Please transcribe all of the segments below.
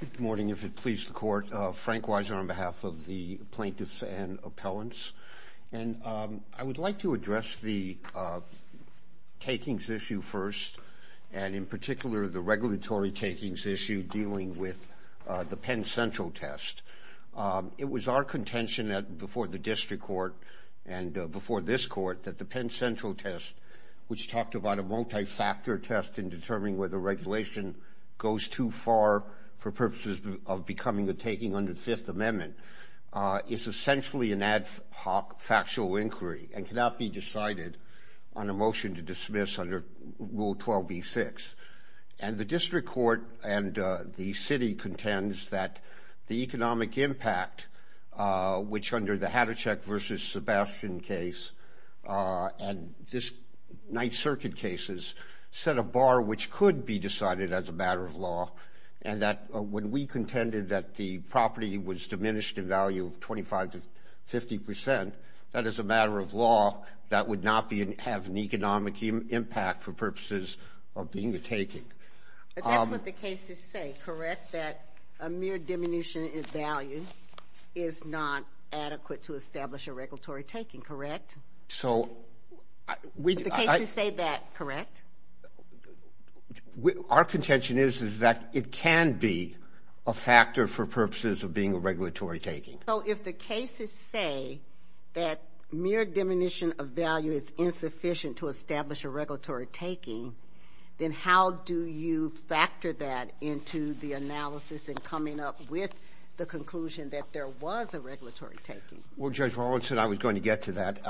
Good morning, if it pleases the court. Frank Weiser on behalf of the plaintiffs and appellants and I would like to address the takings issue first and in particular the regulatory takings issue dealing with the Penn Central test. It was our contention that before the district court and before this court that the Penn Central test which talked about a multi-factor test in determining whether regulation goes too far for purposes of becoming the taking under the Fifth Amendment is essentially an ad hoc factual inquiry and cannot be decided on a motion to dismiss under Rule 12b-6 and the district court and the city contends that the economic impact which under the Hattachek versus be decided as a matter of law and that when we contended that the property was diminished in value of 25 to 50 percent that is a matter of law that would not be an have an economic impact for purposes of being the taking. That's what the cases say, correct? That a mere diminution in value is not adequate to establish a regulatory taking, correct? So we say that, correct? Our contention is is that it can be a factor for purposes of being a regulatory taking. So if the cases say that mere diminution of value is insufficient to establish a regulatory taking then how do you factor that into the analysis and coming up with the conclusion that there was a regulatory taking? Well Judge Rawlinson I was going to get to that.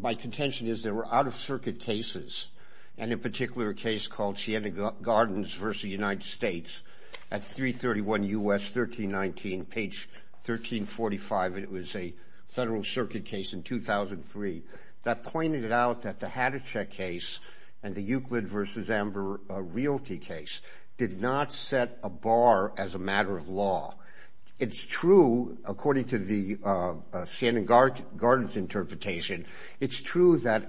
My contention is there were out-of-circuit cases and in particular a case called Sienna Gardens versus United States at 331 U.S. 1319 page 1345 it was a federal circuit case in 2003 that pointed out that the Hattachek case and the Euclid versus Amber Realty case did not set a bar as a interpretation. It's true that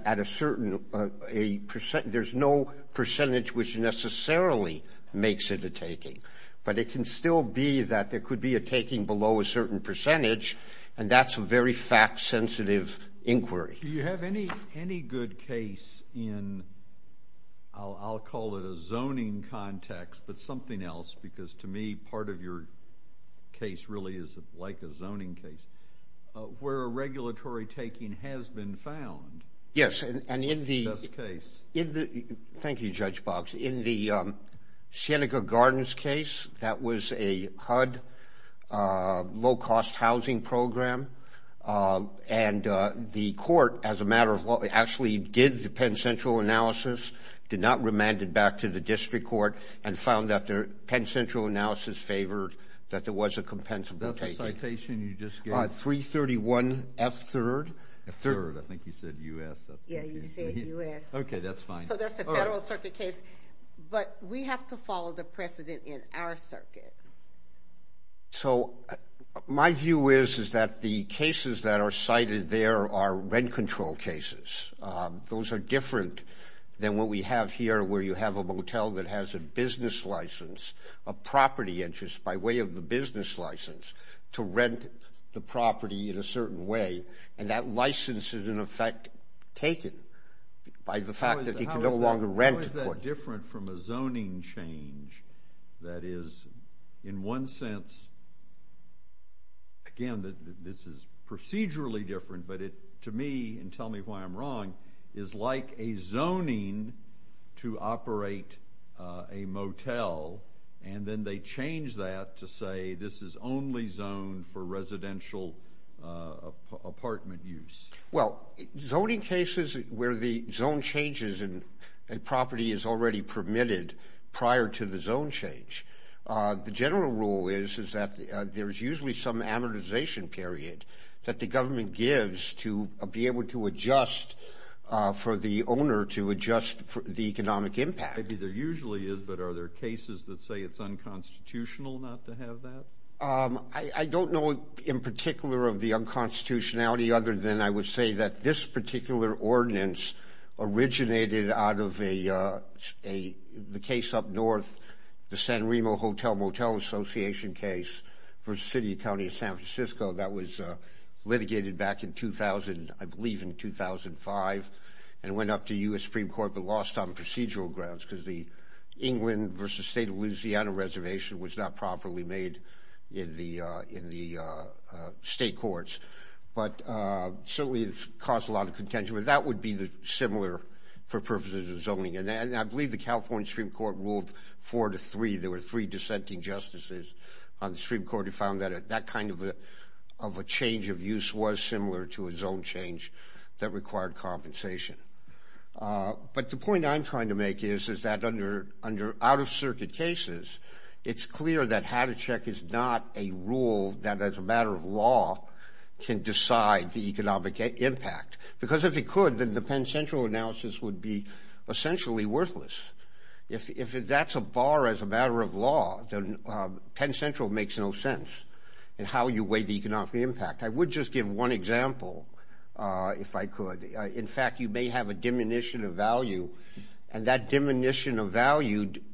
at a certain a percent there's no percentage which necessarily makes it a taking but it can still be that there could be a taking below a certain percentage and that's a very fact-sensitive inquiry. Do you have any any good case in I'll call it a zoning context but something else because to me part of your case really is like a zoning case where a yes and in the case in the thank you Judge Boggs in the Sienna Gardens case that was a HUD low-cost housing program and the court as a matter of what actually did the Penn Central analysis did not remanded back to the district court and found that their Penn Central analysis favored that there was a third I think you said U.S. okay that's fine but we have to follow the precedent in our circuit. So my view is is that the cases that are cited there are rent control cases those are different than what we have here where you have a motel that has a business license a property interest by way of is in effect taken by the fact that he could no longer rent. How is that different from a zoning change that is in one sense again that this is procedurally different but it to me and tell me why I'm wrong is like a zoning to operate a motel and then they change that to say this is only zone for residential apartment use. Well zoning cases where the zone changes and a property is already permitted prior to the zone change the general rule is is that there's usually some amortization period that the government gives to be able to adjust for the owner to adjust the economic impact. Maybe there usually is but are there cases that say it's unconstitutional not to have that? I don't know in particular of the unconstitutionality other than I would say that this particular ordinance originated out of a case up north the San Remo Hotel Motel Association case for City County of San Francisco that was litigated back in 2000 I believe in 2005 and went up to US Supreme Court but lost on procedural grounds because the versus state of Louisiana reservation was not properly made in the in the state courts but certainly it's caused a lot of contention but that would be the similar for purposes of zoning and I believe the California Supreme Court ruled four to three there were three dissenting justices on the Supreme Court who found that that kind of a of a change of use was similar to a zone change that required compensation. But the point I'm trying to make is is that under out-of-circuit cases it's clear that how to check is not a rule that as a matter of law can decide the economic impact because if it could then the Penn Central analysis would be essentially worthless. If that's a bar as a matter of law then Penn Central makes no sense in how you weigh the economic impact. I would just give one example if I could. In fact you may have a diminution of value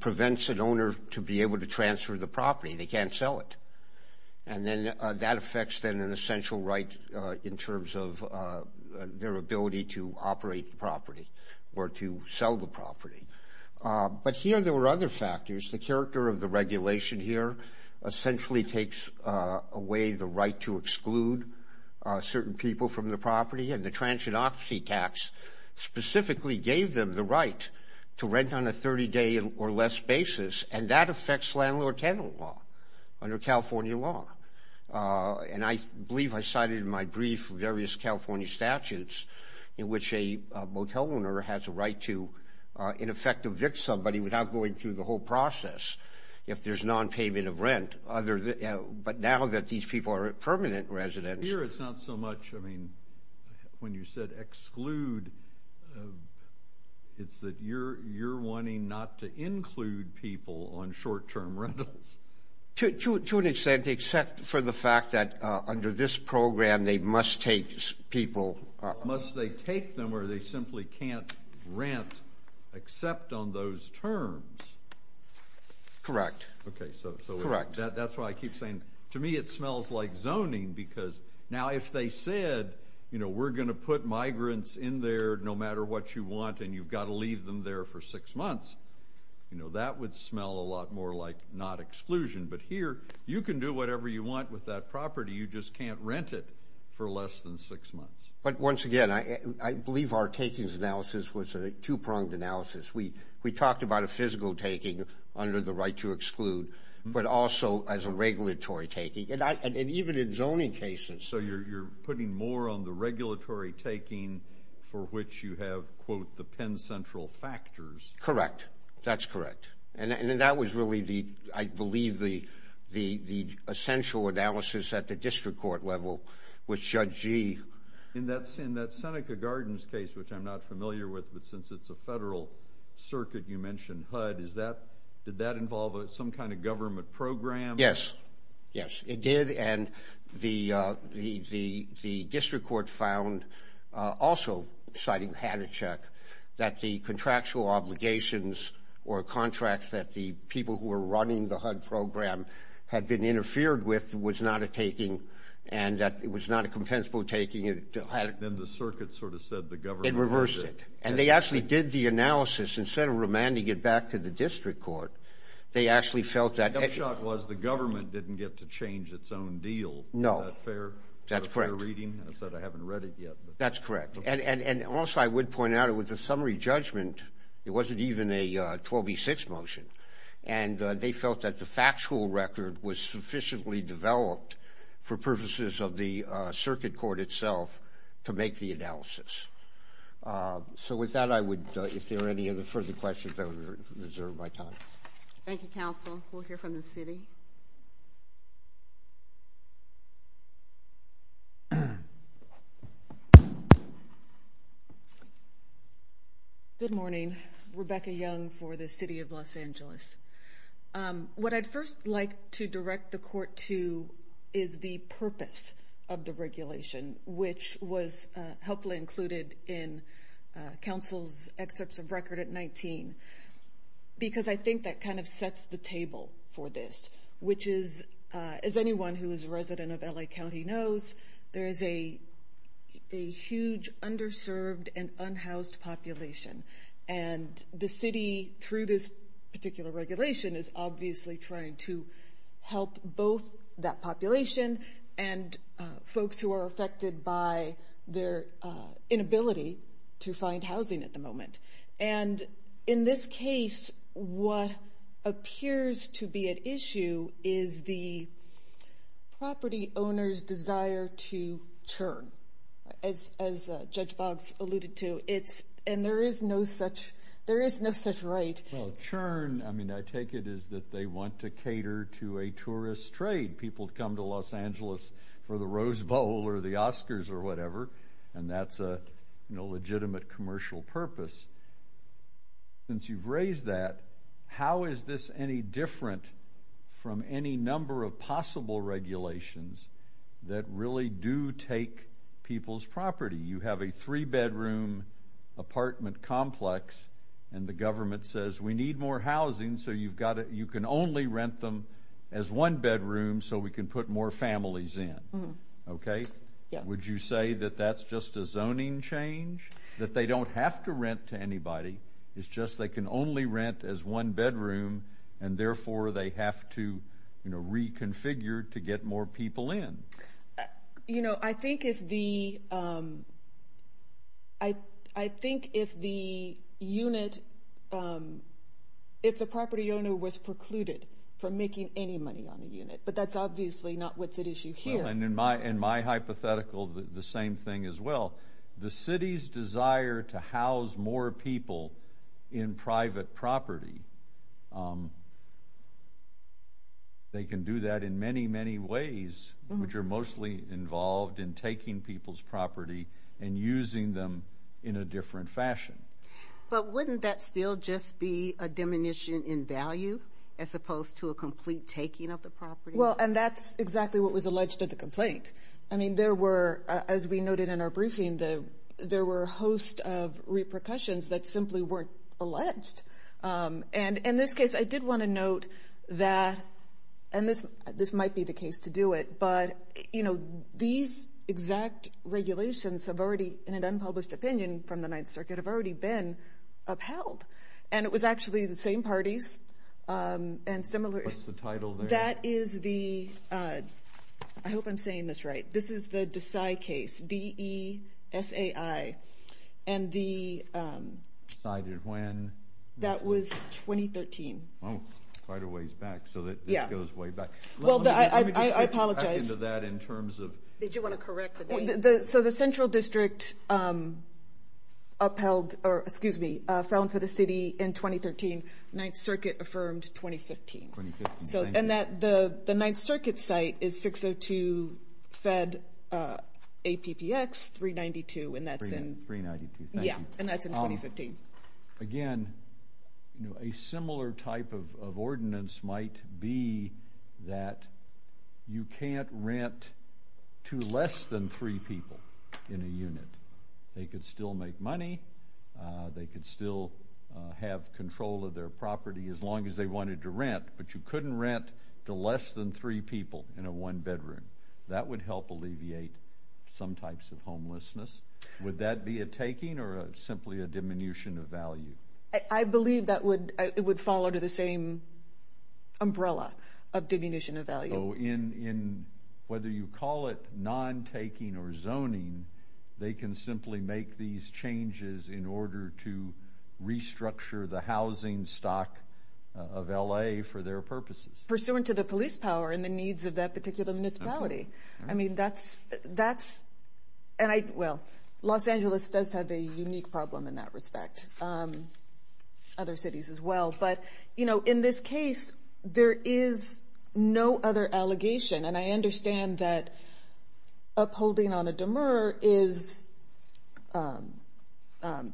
prevents an owner to be able to transfer the property they can't sell it and then that affects then an essential right in terms of their ability to operate property or to sell the property. But here there were other factors the character of the regulation here essentially takes away the right to exclude certain people from the property and the transgenic tax specifically gave them the right to rent on a 30-day or less basis and that affects landlord tenant law under California law. And I believe I cited in my brief various California statutes in which a motel owner has a right to in effect evict somebody without going through the whole process if there's non-payment of rent other than but now that these people are permanent residents. Here it's not so I mean when you said exclude it's that you're you're wanting not to include people on short-term rentals. To an extent except for the fact that under this program they must take people. Must they take them or they simply can't rent except on those terms. Correct. Okay so that's why I keep saying to me it you know we're gonna put migrants in there no matter what you want and you've got to leave them there for six months. You know that would smell a lot more like not exclusion but here you can do whatever you want with that property you just can't rent it for less than six months. But once again I believe our takings analysis was a two-pronged analysis. We we talked about a physical taking under the right to exclude but also as a regulatory taking and I and even in zoning cases. So you're putting more on the regulatory taking for which you have quote the Penn Central factors. Correct that's correct and then that was really the I believe the the the essential analysis at the district court level with Judge Gee. In that in that Seneca Gardens case which I'm not familiar with but since it's a federal circuit you mentioned HUD is that did that involve some kind of government program? Yes yes it did and the the the the district court found also citing had a check that the contractual obligations or contracts that the people who were running the HUD program had been interfered with was not a taking and that it was not a compensable taking it had. Then the circuit sort of said the government. It reversed it and they actually did the actually felt that it was the government didn't get to change its own deal. No fair that's correct reading I said I haven't read it yet. That's correct and and and also I would point out it was a summary judgment it wasn't even a 12e6 motion and they felt that the factual record was sufficiently developed for purposes of the circuit court itself to make the analysis. So with that I would if there are any other further questions I would reserve my time. Thank you counsel we'll hear from the city. Good morning Rebecca Young for the City of Los Angeles. What I'd first like to direct the court to is the purpose of the regulation which was helpfully included in counsel's excerpts of record at 19 because I think that kind of sets the table for this which is as anyone who is a resident of LA County knows there is a a huge underserved and unhoused population and the city through this particular regulation is obviously trying to help both that population and inability to find housing at the moment and in this case what appears to be at issue is the property owners desire to churn as Judge Boggs alluded to it's and there is no such there is no such right. Well churn I mean I take it is that they want to cater to a tourist trade people come to Los Angeles for the Rose Bowl or the Oscars or whatever and that's a no legitimate commercial purpose. Since you've raised that how is this any different from any number of possible regulations that really do take people's property you have a three-bedroom apartment complex and the government says we need more housing so you've got it you can only rent them as one bedroom so we can put more families in. Okay. Would you say that that's just a zoning change that they don't have to rent to anybody it's just they can only rent as one bedroom and therefore they have to you know reconfigure to get more people in. You know I think if the I I think if the unit if the property owner was precluded from making any money on the in my and my hypothetical the same thing as well the city's desire to house more people in private property they can do that in many many ways which are mostly involved in taking people's property and using them in a different fashion. But wouldn't that still just be a diminution in value as opposed to a complete taking of the property? Well and that's exactly what was alleged at the complaint. I mean there were as we noted in our briefing the there were a host of repercussions that simply weren't alleged and in this case I did want to note that and this this might be the case to do it but you know these exact regulations have already in an unpublished opinion from the Ninth Circuit have already been upheld and it was actually the same parties and the title there? That is the I hope I'm saying this right this is the DeSai case D-E-S-A-I and the... DeSai did when? That was 2013. Oh quite a ways back so that yeah goes way back. Well I apologize. Did you want to correct? So the Central District upheld or excuse me fell in for the city in 2013 Ninth Circuit affirmed 2015. So and that the the Ninth Circuit site is 602 fed APPX 392 and that's in yeah and that's in 2015. Again a similar type of ordinance might be that you can't rent to less than three people in a unit. They could still make money. They could still have control of their property as long as they wanted to rent but you couldn't rent to less than three people in a one-bedroom. That would help alleviate some types of homelessness. Would that be a taking or simply a diminution of value? I believe that would it would follow to the same umbrella of diminution of value. Oh in in whether you call it non-taking or zoning they can simply make these changes in order to restructure the housing stock of LA for their purposes. Pursuant to the police power and the needs of that particular municipality. I mean that's that's and I well Los Angeles does have a unique problem in that respect. Other cities as well but you know in this case there is no other allegation and I understand that upholding on a demur is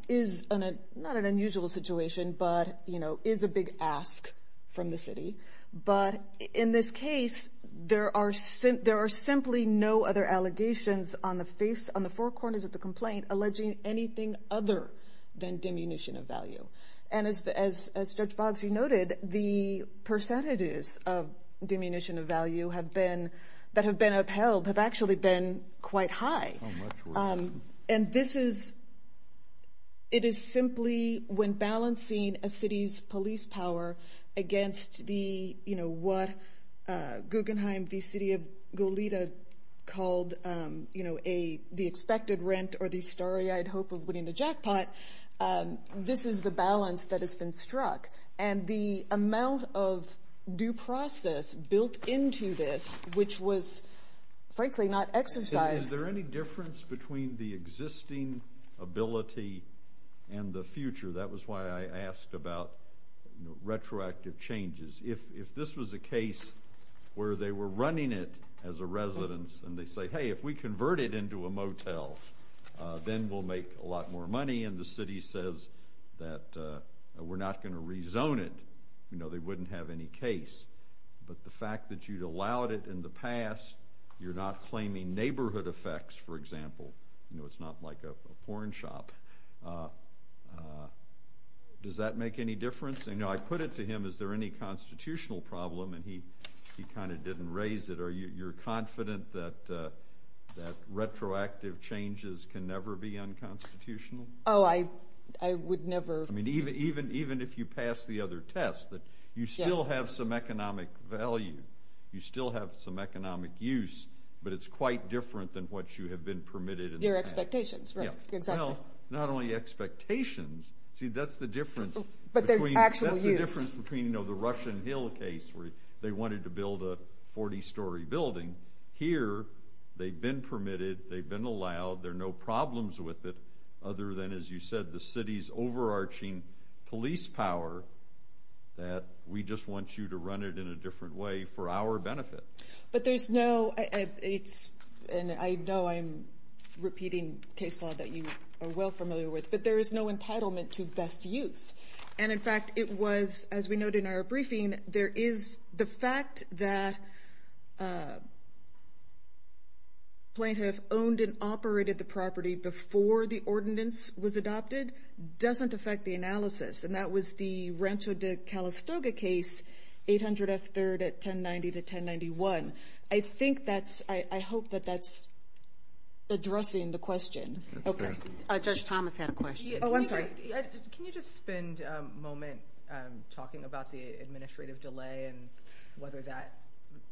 is not an unusual situation but you know is a big ask from the city. But in this case there are sent there are simply no other allegations on the face on the four corners of the complaint alleging anything other than diminution of value. And as Judge Boggs noted the percentages of diminution of value have been that have been upheld have actually been quite high. And this is it is simply when balancing a city's police power against the you know what Guggenheim the city of Goleta called you know a the expected rent or the starry-eyed hope of winning the jackpot. This is the balance that has been struck and the amount of due process built into this which was frankly not exercised. Is there any difference between the existing ability and the future? That was why I asked about retroactive changes. If this was a case where they were running it as a residence and they say hey if we convert it into a motel then we'll make a lot more money and the city says that we're not going to rezone it you know they wouldn't have any case. But the fact that you'd allowed it in the past you're not claiming neighborhood effects for example you know it's not like a porn shop. Does that make any difference? You know I put it to him is there any constitutional problem and he he kind of didn't raise it. Are you you're confident that that retroactive changes can never be unconstitutional? Oh I I would never. I mean even even even if you pass the other test that you still have some economic value you still have some economic use but it's quite different than what you have been permitted. Your expectations. Yeah well not only expectations see that's the difference. But the actual use. Between you know the Russian Hill case where they wanted to build a 40-story building. Here they've been permitted, they've been allowed, there are no problems with it other than as you said the city's overarching police power that we just want you to run it in a different way for our benefit. But there's no it's and I know I'm repeating case law that you are well familiar with but there is no entitlement to best use and in fact it was as we noted in our briefing there is the fact that plaintiff owned and operated the property before the ordinance was adopted doesn't affect the analysis and that was the Rancho de Calistoga case 800 F third at 1090 to 1091. I think that's I hope that that's addressing the question. Judge Thomas had a question. Oh I'm sorry can you just spend a moment talking about the administrative delay and whether that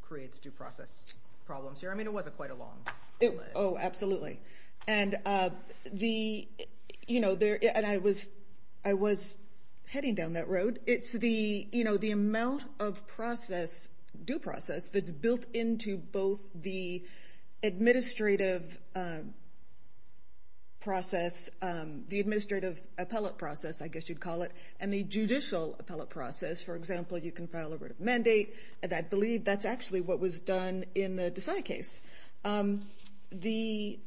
creates due process problems here I mean it wasn't quite a long. Oh absolutely and the you know there and I was I was heading down that road it's the you know the amount of process due process that's administrative process the administrative appellate process I guess you'd call it and the judicial appellate process for example you can file a written mandate and I believe that's actually what was done in the Decide case. The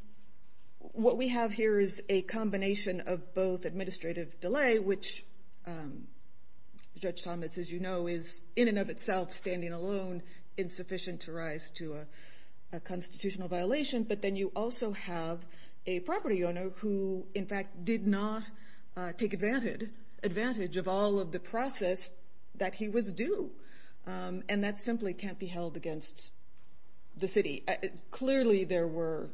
what we have here is a combination of both administrative delay which Judge Thomas as you know is in and of itself standing alone insufficient to a constitutional violation but then you also have a property owner who in fact did not take advantage advantage of all of the process that he was due and that simply can't be held against the city. Clearly there were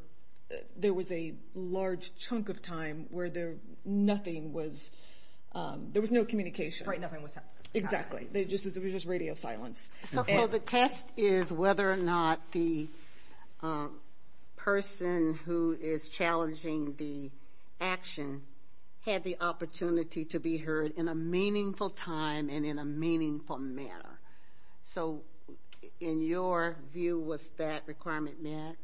there was a large chunk of time where there nothing was there was no communication right nothing was happening. Exactly they just it was just radio silence. So the test is whether or not the person who is challenging the action had the opportunity to be heard in a meaningful time and in a meaningful manner so in your view was that requirement met?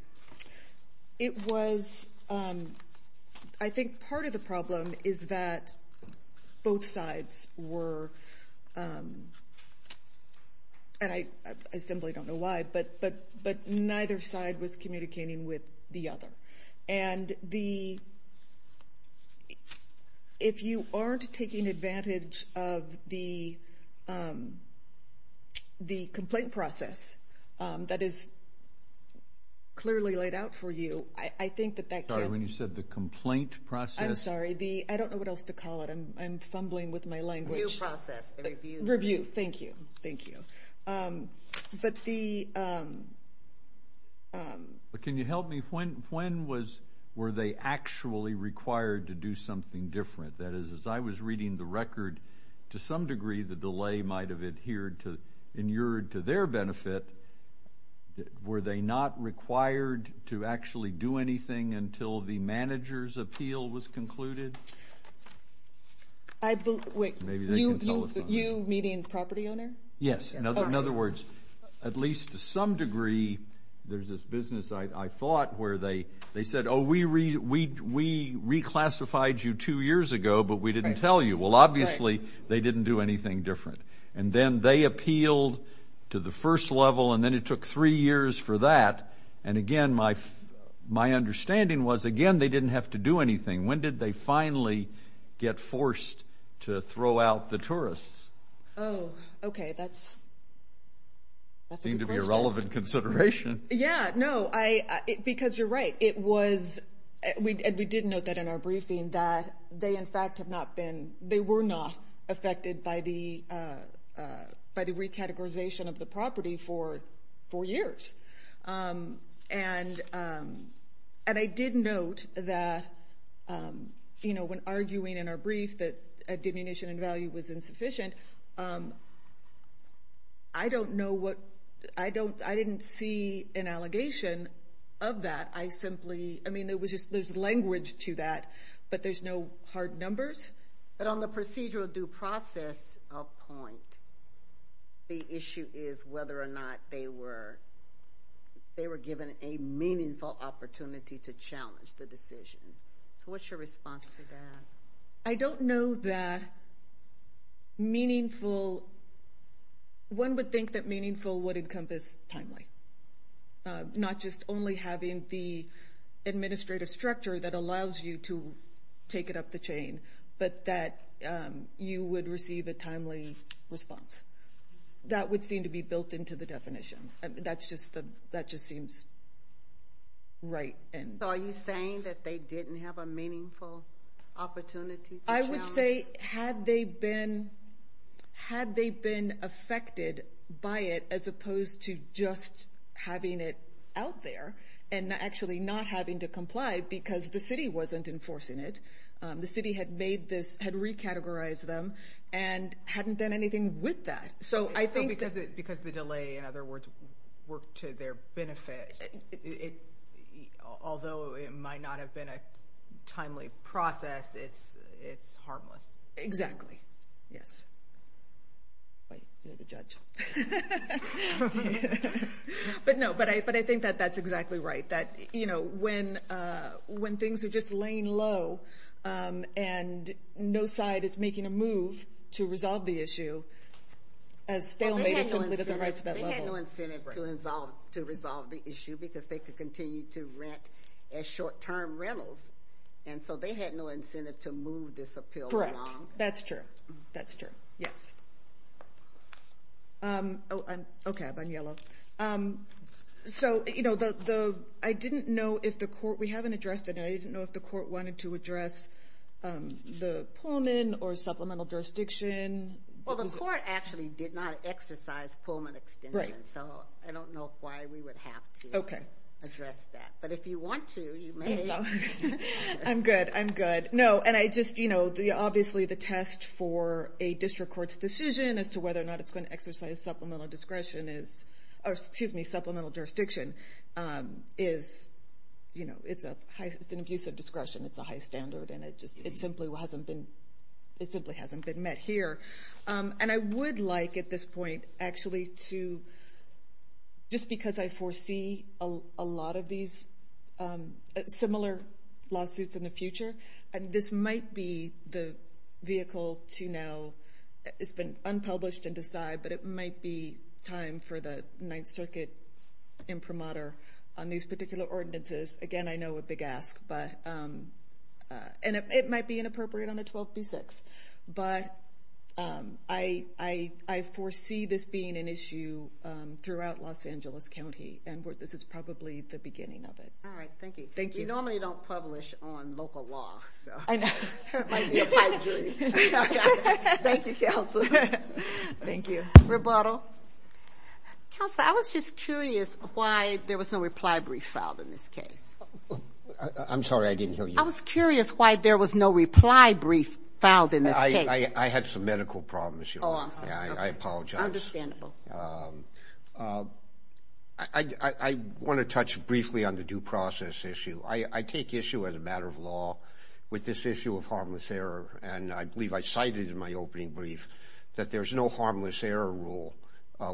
It was I think part of the problem is that both sides were and I simply don't know why but but but neither side was communicating with the other and the if you aren't taking advantage of the the complaint process that is clearly laid out for you I think that that. Sorry when you said the complaint process. I'm sorry the I don't know what else to call it I'm fumbling with my language. Review process. Review thank you thank you but the. But can you help me when when was were they actually required to do something different that is as I was reading the record to some degree the delay might have adhered to inured to their benefit were they not required to actually do anything until the managers appeal was concluded? I believe you meaning property owner? Yes in other words at least to some degree there's this business I thought where they they said oh we read we reclassified you two years ago but we didn't tell you well obviously they didn't do anything different and then they appealed to the first level and then it took three years for that and again my my understanding was again they didn't have to do anything when did they finally get forced to throw out the tourists? Oh okay that's that's going to be a relevant consideration. Yeah no I because you're right it was we did we did note that in our briefing that they in fact have not been they were not affected by the by the recategorization of the property for four and and I did note that you know when arguing in our brief that a diminution in value was insufficient I don't know what I don't I didn't see an allegation of that I simply I mean there was just there's language to that but there's no hard numbers. But on the procedural due process of point the issue is whether or not they were they were given a meaningful opportunity to challenge the decision. So what's your response to that? I don't know that meaningful one would think that meaningful would encompass timely not just only having the administrative structure that allows you to take it up the chain but that you would receive a timely response. That would seem to be built into the definition. That's just the that just seems right. And are you saying that they didn't have a meaningful opportunity? I would say had they been had they been affected by it as opposed to just having it out there and actually not having to comply because the city wasn't enforcing it. The city had made this had recategorized them and hadn't done anything with that. So I think because the delay in other words worked to their benefit it although it might not have been a timely process it's it's harmless. Exactly yes. But no but I but I think that that's exactly right that you know when when things are just laying low and no side is making a move to resolve the issue as stale medicine. They had no incentive to resolve the issue because they could continue to rent as short-term rentals and so they had no incentive to move this appeal. Correct. That's true. That's true. Yes. Okay I'm on yellow. So you know the the I didn't know if the court we haven't Pullman or Supplemental Jurisdiction. Well the court actually did not exercise Pullman extension. So I don't know why we would have to address that but if you want to. I'm good I'm good. No and I just you know the obviously the test for a district courts decision as to whether or not it's going to exercise Supplemental Discretion is or excuse me Supplemental Jurisdiction is you know it's a high it's an abuse of discretion it's a high standard and it just it simply hasn't been it simply hasn't been met here and I would like at this point actually to just because I foresee a lot of these similar lawsuits in the future and this might be the vehicle to now it's been unpublished and decide but it might be time for the Ninth Circuit imprimatur on these particular ordinances again I know a big ask but and it might be inappropriate on a 12 through 6 but I I foresee this being an issue throughout Los Angeles County and what this is probably the beginning of it. All right thank you. Thank you. You normally don't publish on local law. I know. Thank you counsel. Thank you. Rebuttal. Counselor, I was just curious why there was no reply brief filed in this case. I'm sorry I didn't hear you. I was curious why there was no reply brief filed in this case. I had some medical problems. I apologize. I want to touch briefly on the due process issue. I take issue as a matter of law with this issue of harmless error and I believe I cited in my opening brief that there's no harmless error rule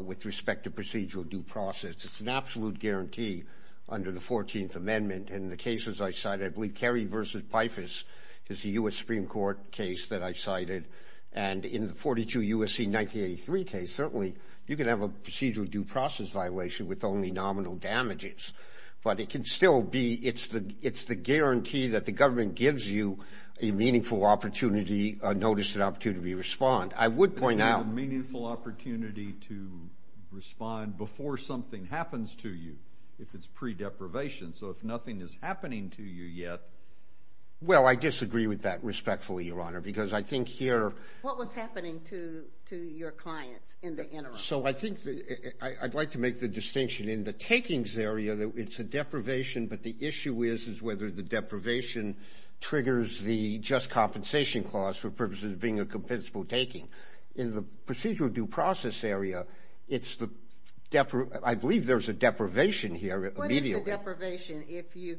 with respect to procedural due process. It's an absolute guarantee under the 14th Amendment and the cases I cited I believe Kerry versus Pifus is the US Supreme Court case that I cited and in the 42 USC 1983 case certainly you can have a procedural due process violation with only nominal damages but it can still be it's the it's the guarantee that the government gives you a notice and opportunity to respond. I would point out... Meaningful opportunity to respond before something happens to you if it's pre-deprivation so if nothing is happening to you yet... Well I disagree with that respectfully Your Honor because I think here... What was happening to your clients in the interim? So I think I'd like to make the distinction in the takings area that it's a deprivation but the issue is is whether the deprivation triggers the just compensation clause for purposes of being a compensable taking. In the procedural due process area it's the... I believe there's a deprivation here... What is the deprivation if you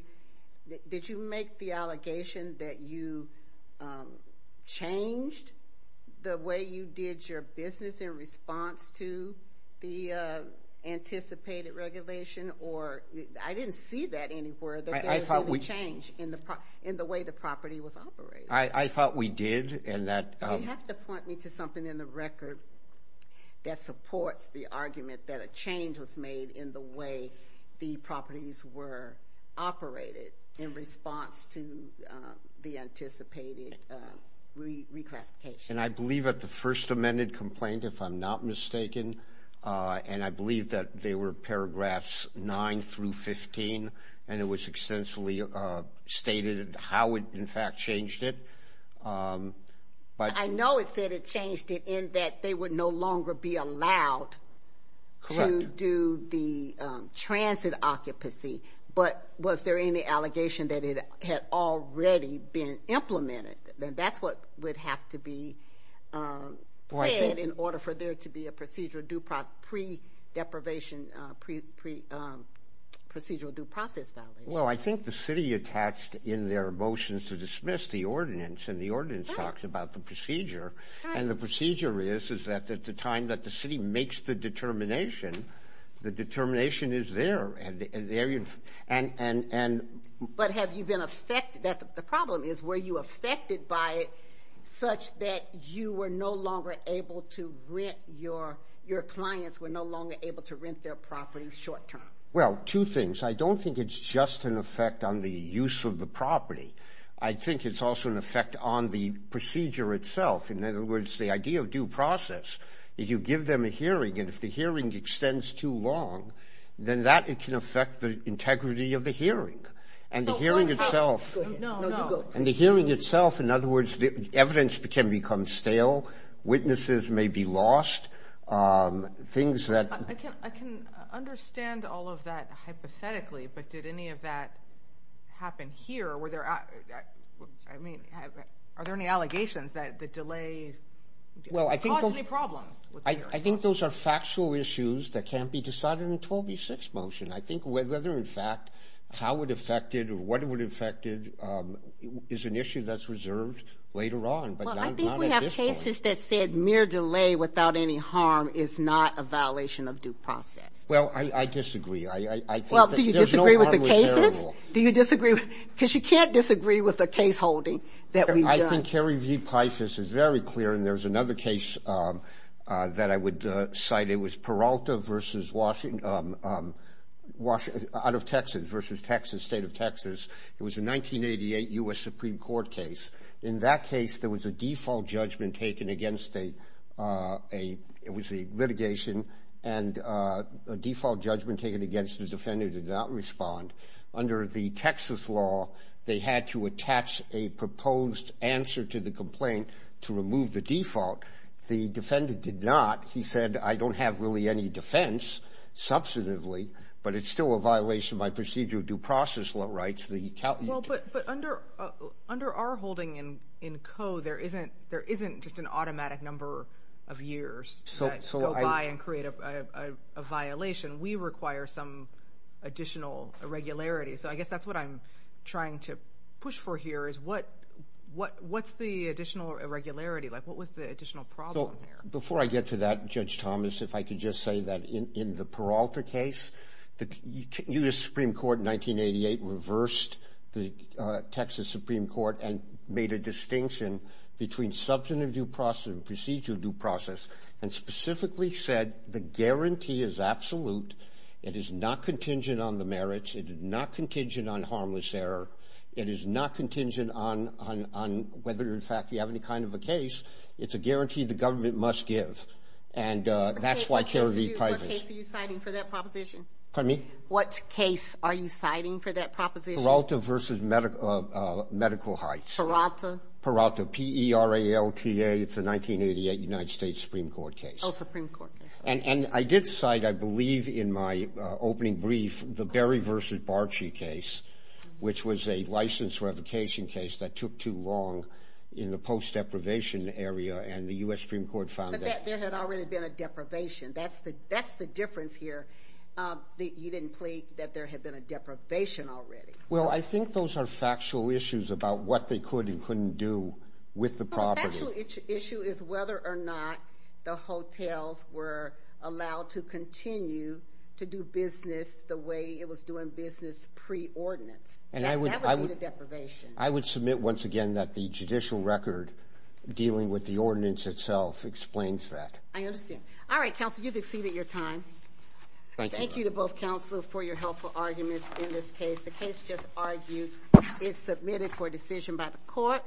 did you make the allegation that you changed the way you did your business in anticipated regulation or I didn't see that anywhere... I thought we changed in the in the way the property was operated. I thought we did and that... You have to point me to something in the record that supports the argument that a change was made in the way the properties were operated in response to the anticipated reclassification. And I believe at the first amended complaint if I'm not mistaken and I believe that they were paragraphs 9 through 15 and it was extensively stated how it in fact changed it... I know it said it changed it in that they would no longer be allowed to do the transit occupancy but was there any allegation that it had already been implemented and that's what would have to be in order for there to be a procedural due process pre deprivation pre procedural due process. Well I think the city attached in their motions to dismiss the ordinance and the ordinance talks about the procedure and the procedure is is that at the time that the city makes the determination the determination is there and there you But have you been affected... the problem is were you affected by it such that you were no longer able to rent your your clients were no longer able to rent their property short term? Well two things I don't think it's just an effect on the use of the property I think it's also an effect on the procedure itself in other words the idea of due process if you give them a hearing and if the of the hearing and the hearing itself and the hearing itself in other words the evidence can become stale witnesses may be lost things that... I can understand all of that hypothetically but did any of that happen here were there I mean are there any allegations that the delay... well I think those are factual issues that can't be decided in 12v6 motion I think whether in fact how it affected or what it would affected is an issue that's reserved later on but I think we have cases that said mere delay without any harm is not a violation of due process. Well I disagree. Well do you disagree with the cases? Do you disagree? Because you can't disagree with the case holding that we've done. I think Harry V Paisa's is very clear and there's another case that I would cite it was Peralta versus Washington... out of Texas versus Texas state of Texas it was a 1988 US Supreme Court case in that case there was a default judgment taken against a... it was a litigation and a default judgment taken against the defendant did not respond under the Texas law they had to attach a proposed answer to the complaint to remove the default the defendant did not he said I don't have really any defense substantively but it's still a violation by procedure of due process law rights... but under under our holding in in code there isn't there isn't just an automatic number of years so I and create a violation we require some additional irregularity so I guess that's what I'm trying to push for here is what what what's the additional irregularity like what was the additional problem here? Before I get to that Judge Thomas if I could just say that in the Peralta case the US Supreme Court in 1988 reversed the Texas Supreme Court and made a distinction between substantive due process and procedural due process and specifically said the guarantee is absolute it is not contingent on the merits it is not contingent on harmless error it is not contingent on on on whether in fact you have any kind of a case it's a guarantee the government must give and that's why Cary V. Pivas... What case are you citing for that proposition? Pardon me? What case are you citing for that proposition? Peralta versus Medical Heights. Peralta? Peralta P-E-R-A-L-T-A it's a 1988 United States Supreme Court case. Oh Supreme Court case. And and I did cite I believe in my opening brief the Berry versus Barchi case which was a license revocation case that took too long in the post deprivation area and the US Supreme Court found that... But there had already been a deprivation that's the that's the difference here that you didn't plead that there had been a deprivation already. Well I think those are factual issues about what they could and couldn't do with the property. The actual issue is whether or not the hotels were allowed to continue to do business the way it was doing business pre-ordinance. And I would... That would be the deprivation. I would submit once again that the judicial record dealing with the ordinance itself explains that. I understand. All right counsel you've exceeded your time. Thank you to both counsel for your helpful arguments in this case. The case just argued is submitted for decision by the court.